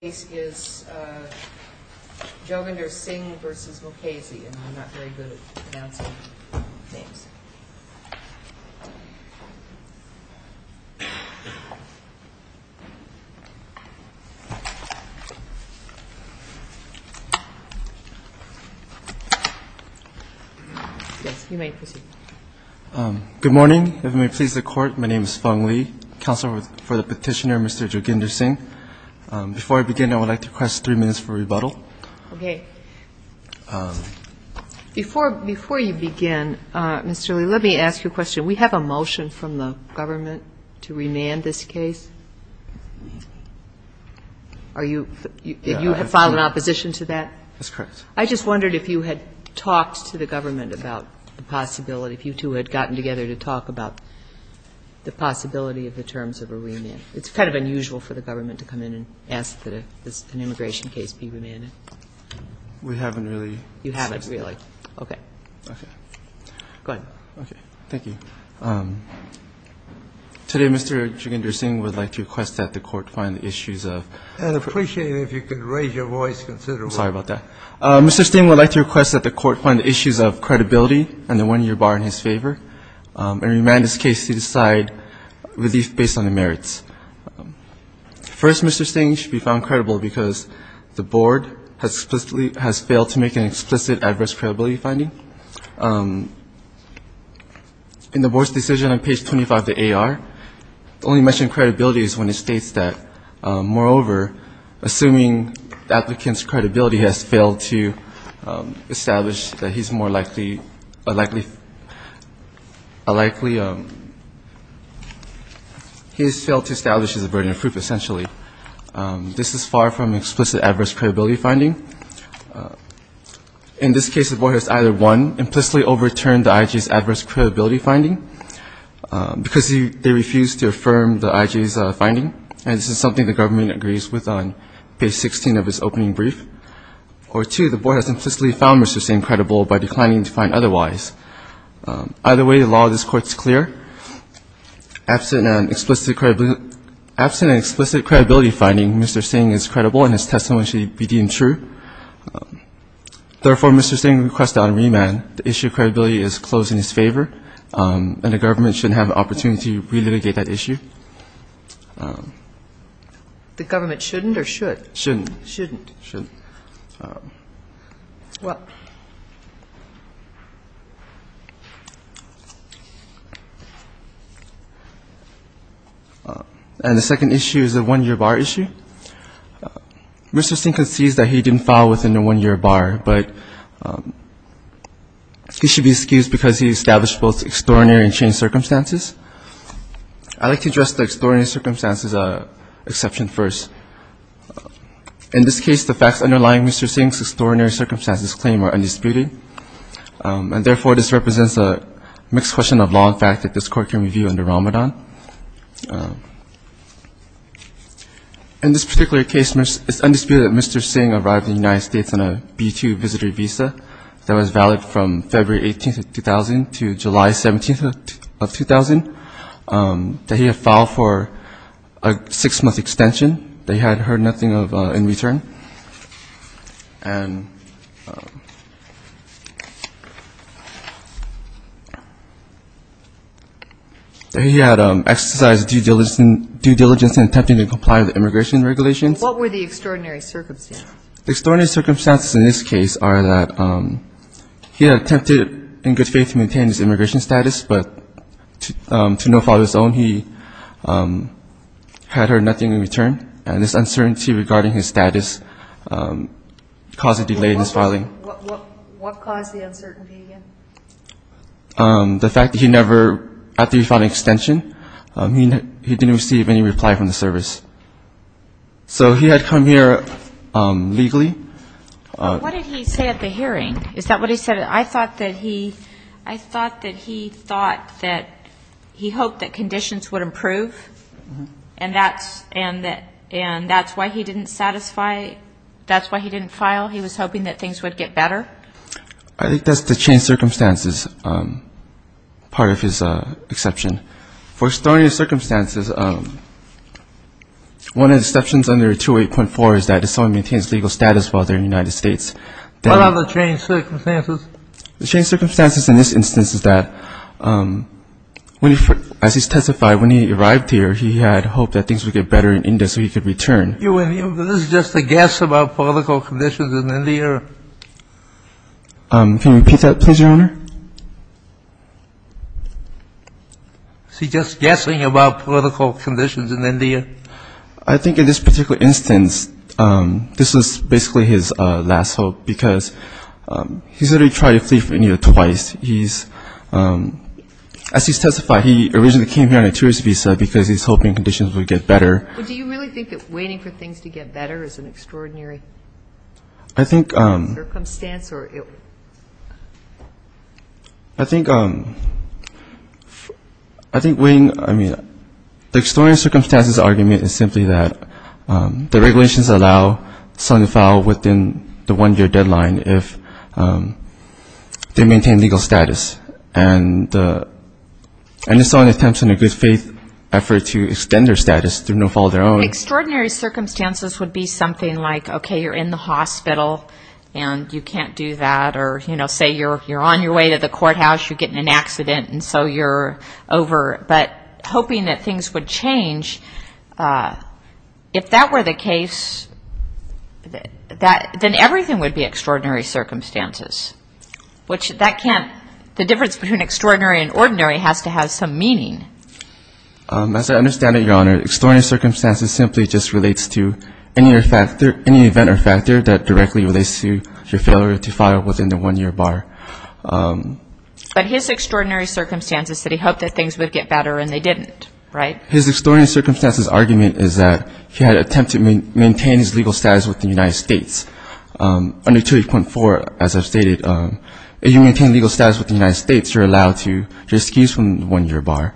and I'm not very good at pronouncing names. Yes, you may proceed. Good morning. If it may please the Court, my name is Feng Lee, Counsel for the Petitioner, Mr. Joginder Singh. Again, I would like to request three minutes for rebuttal. Okay. Before you begin, Mr. Lee, let me ask you a question. We have a motion from the government to remand this case. Are you you have filed an opposition to that? That's correct. I just wondered if you had talked to the government about the possibility, if you two had gotten together to talk about the possibility of the terms of a remand. It's kind of unusual for the government to come in and ask that an immigration case be remanded. We haven't really. You haven't really. Okay. Okay. Go ahead. Okay. Thank you. Today, Mr. Joginder Singh would like to request that the Court find the issues of. I'd appreciate it if you could raise your voice considerably. I'm sorry about that. Mr. Singh would like to request that the Court find the issues of credibility and the one-year bar in his favor and remand this case to decide relief based on the merits. First, Mr. Singh should be found credible because the Board has explicitly has failed to make an explicit adverse credibility finding. In the Board's decision on page 25 of the AR, the only mention of credibility is when it states that, moreover, assuming the applicant's credibility has failed to establish that he's more likely, he has failed to establish as a burden of proof, essentially. This is far from an explicit adverse credibility finding. In this case, the Board has either, one, implicitly overturned the IG's adverse credibility finding because they refused to affirm the IG's finding, and this is something the government agrees with on page 16 of its opening brief, or two, the Board has implicitly found Mr. Singh credible by declining to find otherwise. Either way, the law of this Court is clear. Absent an explicit credibility finding, Mr. Singh is credible and his testimony should be deemed true. Therefore, Mr. Singh requests that on remand the issue of credibility is closed in his favor, and the government shouldn't have the opportunity to relitigate that issue. The government shouldn't or should? Shouldn't. Shouldn't. Shouldn't. Well. And the second issue is a one-year bar issue. Mr. Singh concedes that he didn't file within a one-year bar, but he should be excused because he established both extraordinary and changed circumstances. I'd like to address the extraordinary circumstances exception first. In this case, the facts underlying Mr. Singh's extraordinary circumstances claim are undisputed, and therefore this represents a mixed question of law and fact that this Court can review under Ramadan. In this particular case, it's undisputed that Mr. Singh arrived in the United States on a B-2 visitor visa that was valid from February 18th of 2000 to July 17th of 2000, that he had filed for a six-month extension, that he had heard nothing of in return, and that he had exercised due diligence in attempting to comply with immigration regulations. What were the extraordinary circumstances? The extraordinary circumstances in this case are that he had attempted in good faith to maintain his immigration status, but to no fault of his own, he had heard nothing in return, and this uncertainty regarding his status caused a delay in his filing. What caused the uncertainty again? The fact that he never, after he filed an extension, he didn't receive any reply from the service. So he had come here legally. What did he say at the hearing? Is that what he said? I thought that he thought that he hoped that conditions would improve, and that's why he didn't satisfy, that's why he didn't file. He was hoping that things would get better. I think that's the changed circumstances part of his exception. For extraordinary circumstances, one of the exceptions under 208.4 is that if someone maintains legal status while they're in the United States, then the changed circumstances in this instance is that as he testified, when he arrived here, he had hoped that things would get better in India so he could return. This is just a guess about political conditions in India. Can you repeat that, please, Your Honor? He's just guessing about political conditions in India. I think in this particular instance, this was basically his last hope, because he's already tried to flee from India twice. As he testified, he originally came here on a tourist visa because he was hoping conditions would get better. But do you really think that waiting for things to get better is an extraordinary circumstance? I think the extraordinary circumstances argument is simply that the regulations allow someone to file within the one-year deadline if they maintain legal status. And it's not an attempt in a good faith effort to extend their status through no fault of their own. Extraordinary circumstances would be something like, okay, you're in the hospital and you can't do that, or say you're on your way to the courthouse, you get in an accident and so you're over. But hoping that things would change, if that were the case, then everything would be extraordinary circumstances. Which that can't, the difference between extraordinary and ordinary has to have some meaning. As I understand it, Your Honor, extraordinary circumstances simply just relates to any event or factor that directly relates to your failure to file within the one-year bar. But his extraordinary circumstance is that he hoped that things would get better and they didn't, right? His extraordinary circumstances argument is that he had attempted to maintain his legal status with the United States. Under 28.4, as I've stated, if you maintain legal status with the United States, you're allowed to just excuse from the one-year bar.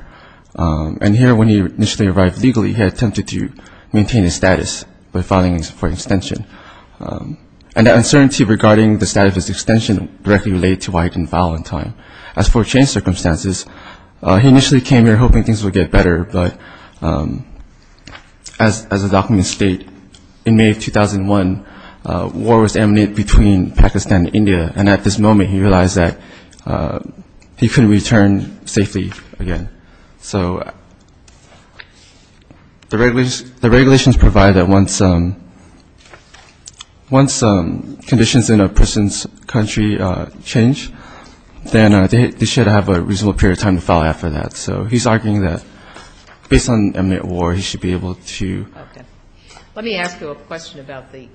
And here, when he initially arrived legally, he attempted to maintain his status by filing for extension. And the uncertainty regarding the status of his extension directly related to why he didn't file on time. As for changed circumstances, he initially came here hoping things would get better, but as the documents state, in May of 2001, war was imminent between Pakistan and India. And at this moment, he realized that he couldn't return safely again. So the regulations provide that once conditions in a person's country change, then they should have a reasonable period of time to file after that. So he's arguing that based on a mid-war, he should be able to. Okay. Let me ask you a question about the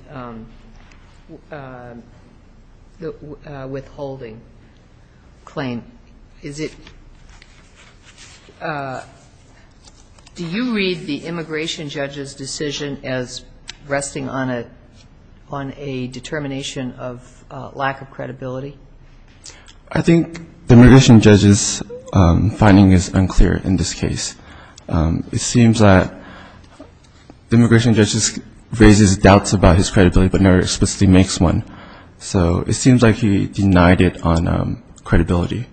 withholding claim. Is it do you read the immigration judge's decision as resting on a determination of lack of credibility? I think the immigration judge's finding is unclear in this case. It seems that the immigration judge raises doubts about his credibility but never explicitly makes one. So it seems like he denied it on credibility.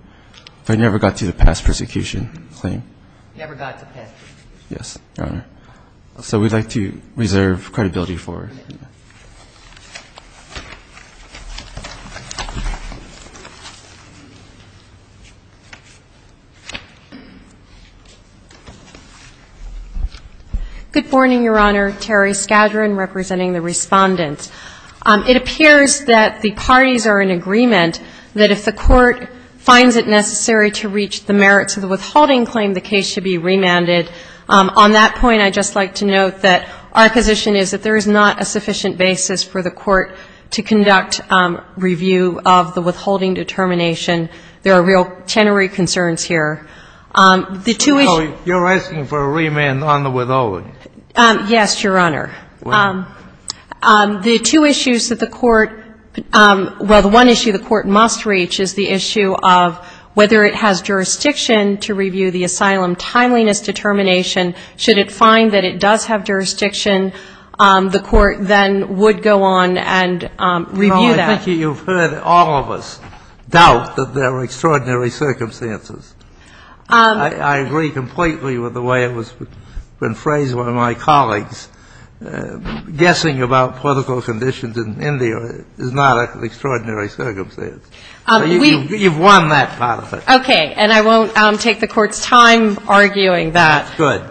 I never got to the past persecution claim. Yes, Your Honor. So we'd like to reserve credibility for it. Good morning, Your Honor. Terry Skadron representing the Respondents. It appears that the parties are in agreement that if the court finds it necessary to reach the merits of the withholding claim, the case should be remanded. On that point, I'd just like to note that our position is that there is not a sufficient basis for the court to conduct review of the withholding determination. There are real tenory concerns here. You're asking for a remand on the withholding? Yes, Your Honor. The two issues that the court — well, the one issue the court must reach is the issue of whether it has jurisdiction to review the asylum timeliness determination. Should it find that it does have jurisdiction, the court then would go on and review that. Well, I think you've heard all of us doubt that there are extraordinary circumstances. I agree completely with the way it was phrased by one of my colleagues. Guessing about political conditions in India is not an extraordinary circumstance. You've won that part of it. Okay. And I won't take the Court's time arguing that. Good.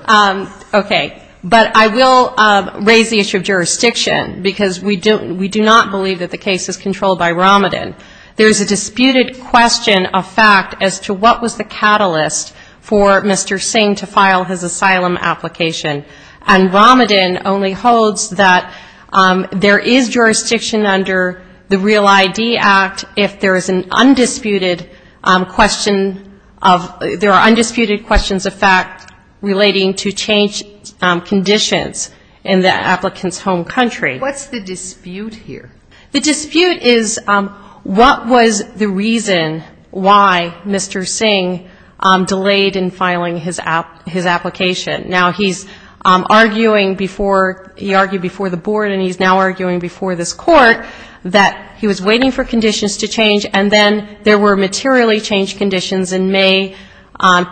Okay. But I will raise the issue of jurisdiction, because we do not believe that the case is controlled by Romadin. There is a disputed question of fact as to what was the catalyst for Mr. Singh to file his asylum application. And Romadin only holds that there is jurisdiction under the Real ID Act if there is an undisputed question of — there are undisputed questions of fact relating to changed conditions in the applicant's home country. What's the dispute here? The dispute is what was the reason why Mr. Singh delayed in filing his application. Now, he's arguing before — he argued before the board and he's now arguing before this court that he was waiting for conditions to change, and then there were materially changed conditions in May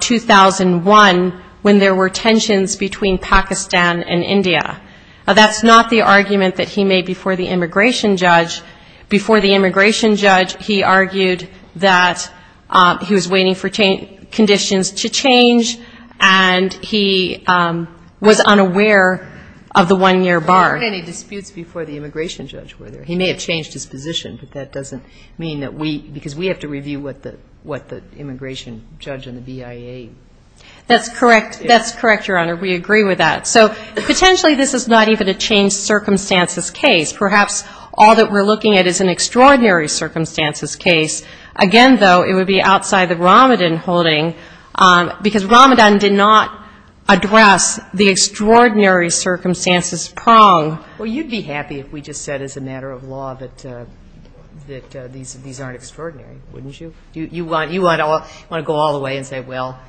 2001 when there were tensions between Pakistan and India. Now, that's not the argument that he made before the immigration judge. Before the immigration judge, he argued that he was waiting for conditions to change and he was unaware of the one-year bar. But there weren't any disputes before the immigration judge, were there? He may have changed his position, but that doesn't mean that we — because we have to review what the immigration judge and the BIA — That's correct. That's correct, Your Honor. We agree with that. So potentially this is not even a changed circumstances case. Perhaps all that we're looking at is an extraordinary circumstances case. Again, though, it would be outside the Ramadan holding because Ramadan did not address the extraordinary circumstances prong. Well, you'd be happy if we just said as a matter of law that these aren't extraordinary, wouldn't you? You want to go all the way and say, well,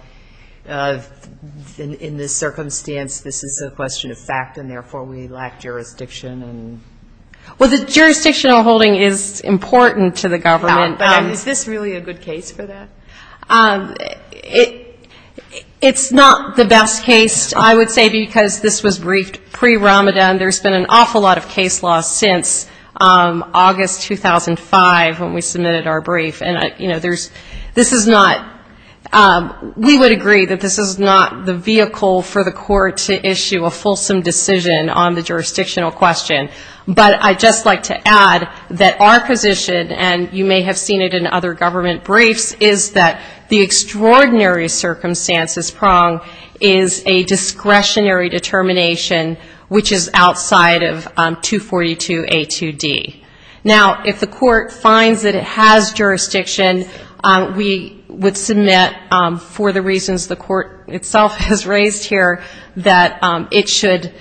in this circumstance, this is a question of fact, and therefore we lack jurisdiction. Well, the jurisdictional holding is important to the government. Is this really a good case for that? It's not the best case, I would say, because this was briefed pre-Ramadan. There's been an awful lot of case law since August 2005 when we submitted our brief. We would agree that this is not the vehicle for the court to issue a fulsome decision on the jurisdictional question. We have seen it in other government briefs, is that the extraordinary circumstances prong is a discretionary determination which is outside of 242A2D. Now, if the court finds that it has jurisdiction, we would submit for the reasons the court itself has raised here that it should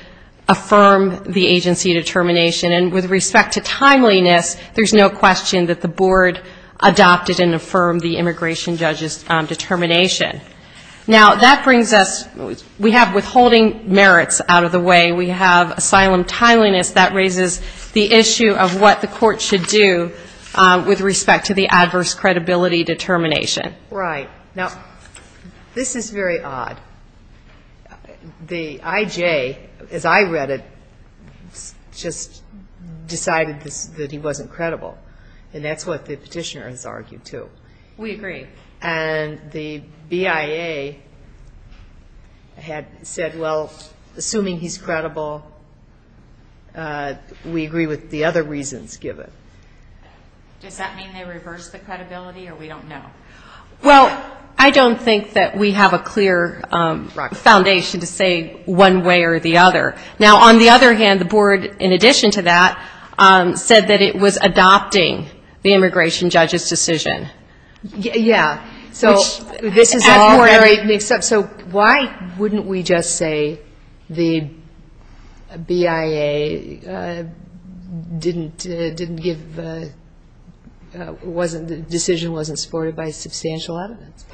affirm the agency determination. And with respect to timeliness, there's no question that the board adopted and affirmed the immigration judge's determination. Now, that brings us we have withholding merits out of the way. We have asylum timeliness. That raises the issue of what the court should do with respect to the adverse credibility determination. Right. Now, this is very odd. The IJ, as I read it, just decided that he wasn't credible, and that's what the petitioner has argued, too. We agree. And the BIA had said, well, assuming he's credible, we agree with the other reasons given. Does that mean they reversed the credibility, or we don't know? Well, I don't think that we have a clear foundation to say one way or the other. Now, on the other hand, the board, in addition to that, said that it was adopting the immigration judge's decision. Yeah. So why wouldn't we just say the BIA didn't give the decision, wasn't supported by substantial evidence,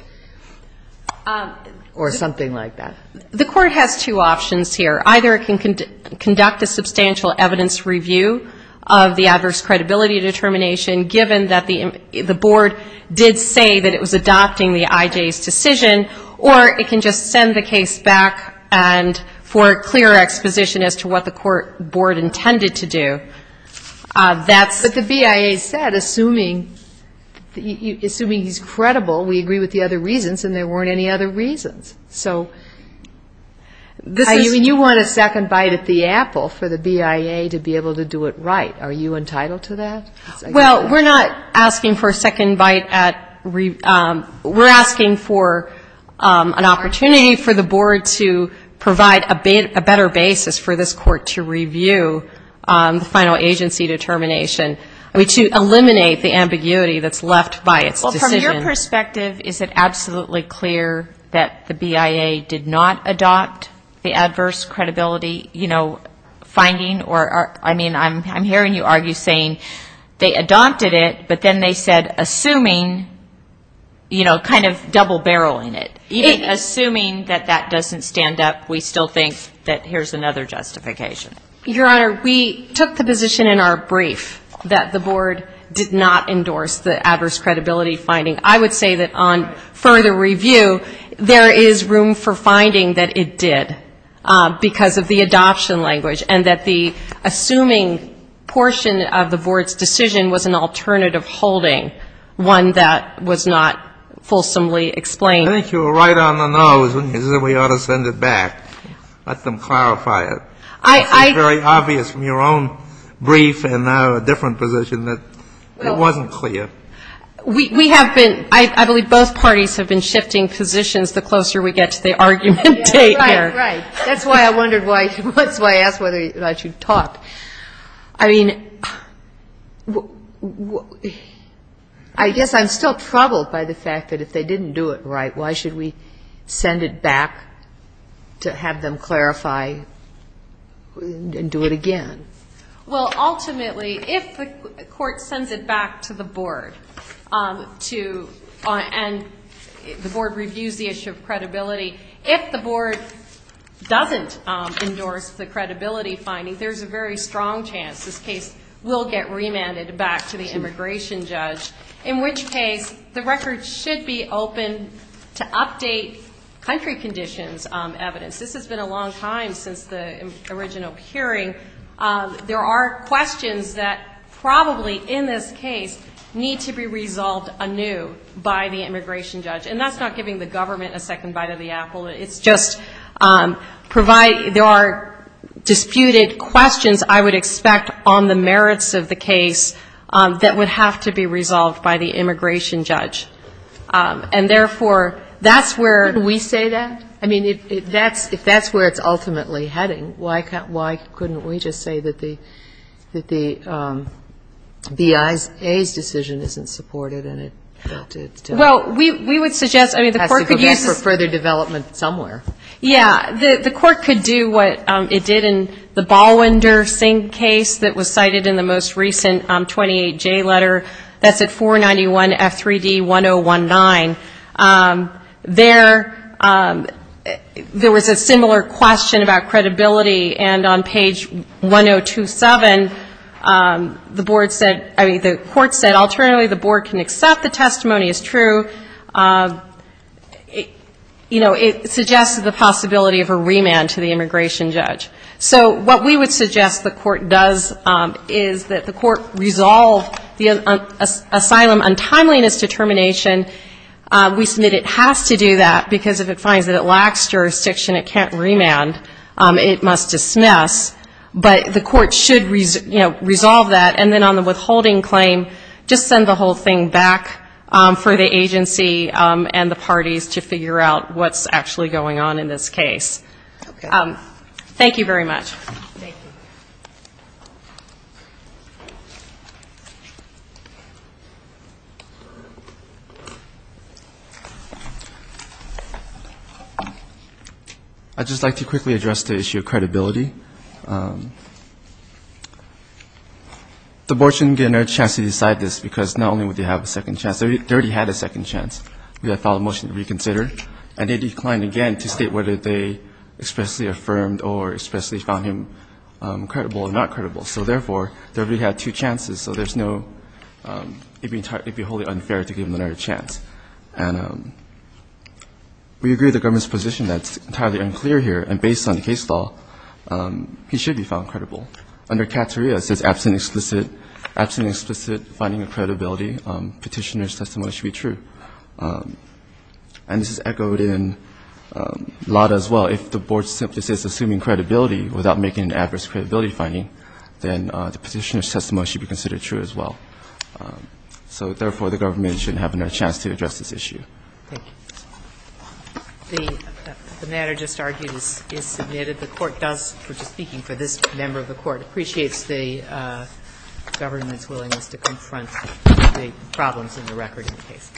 or something like that? The court has two options here. Either it can conduct a substantial evidence review of the adverse credibility determination, which is adopting the IJ's decision, or it can just send the case back for a clear exposition as to what the court board intended to do. But the BIA said, assuming he's credible, we agree with the other reasons, and there weren't any other reasons. So you want a second bite at the apple for the BIA to be able to do it right. Are you entitled to that? Well, we're not asking for a second bite. We're asking for an opportunity for the board to provide a better basis for this court to review the final agency determination. I mean, to eliminate the ambiguity that's left by its decision. Well, from your perspective, is it absolutely clear that the BIA did not adopt the adverse credibility, you know, finding or, I mean, I'm hearing you argue saying they adopted it, but then they said assuming, you know, kind of double-barreling it. Even assuming that that doesn't stand up, we still think that here's another justification. Your Honor, we took the position in our brief that the board did not endorse the adverse credibility finding. I would say that on further review, there is room for finding that it did, because of the adoption language. And that the assuming portion of the board's decision was an alternative holding, one that was not fulsomely explained. I think you were right on the nose when you said we ought to send it back, let them clarify it. It's very obvious from your own brief and now a different position that it wasn't clear. We have been, I believe both parties have been shifting positions the closer we get to the argument date here. Right, that's why I wondered why, that's why I asked whether or not you'd talk. I mean, I guess I'm still troubled by the fact that if they didn't do it right, why should we send it back to have them clarify and do it again? Well, ultimately, if the court sends it back to the board to, and the board reviews the issue of credibility, if the board, doesn't endorse the credibility finding, there's a very strong chance this case will get remanded back to the immigration judge. In which case, the record should be open to update country conditions evidence. This has been a long time since the original hearing. There are questions that probably, in this case, need to be resolved anew by the immigration judge. And that's not giving the government a second bite of the apple. It's just provide, there are disputed questions, I would expect, on the merits of the case that would have to be resolved by the immigration judge. And therefore, that's where we say that. I mean, if that's where it's ultimately heading, why couldn't we just say that the BIA's decision isn't supported? Well, we would suggest, I mean, the court could use this. Yeah, the court could do what it did in the Ballwinder Singh case that was cited in the most recent 28J letter. That's at 491F3D1019. There was a similar question about credibility, and on page 1027, the board said, I mean, the court said, alternatively, the board can accept the testimony as true. It suggests the possibility of a remand to the immigration judge. So what we would suggest the court does is that the court resolve the asylum untimeliness determination. We submit it has to do that, because if it finds that it lacks jurisdiction, it can't remand. It must dismiss. But the court should, you know, resolve that, and then on the withholding claim, just send the whole thing back for the agency and the parties to figure out what's actually going on in this case. Thank you very much. Thank you. I'd just like to quickly address the issue of credibility. The board shouldn't get another chance to decide this, because not only would they have a second chance. They already had a second chance. We had a follow-up motion to reconsider, and they declined again to state whether they expressly affirmed or expressly found him credible or not credible. So, therefore, they already had two chances, so there's no — it would be wholly unfair to give them another chance. And we agree with the government's position that's entirely unclear here, and based on the case law, he should be found credible. Under Cateria, it says, absent explicit finding of credibility, Petitioner's testimony should be true, and this is echoed in LADA as well. If the board simply says, assuming credibility without making an adverse credibility finding, then the Petitioner's testimony should be considered true as well. So, therefore, the government shouldn't have another chance to address this issue. Thank you. The matter just argued is submitted. The Court does, speaking for this member of the Court, appreciates the government's willingness to confront the problems in the record in the case.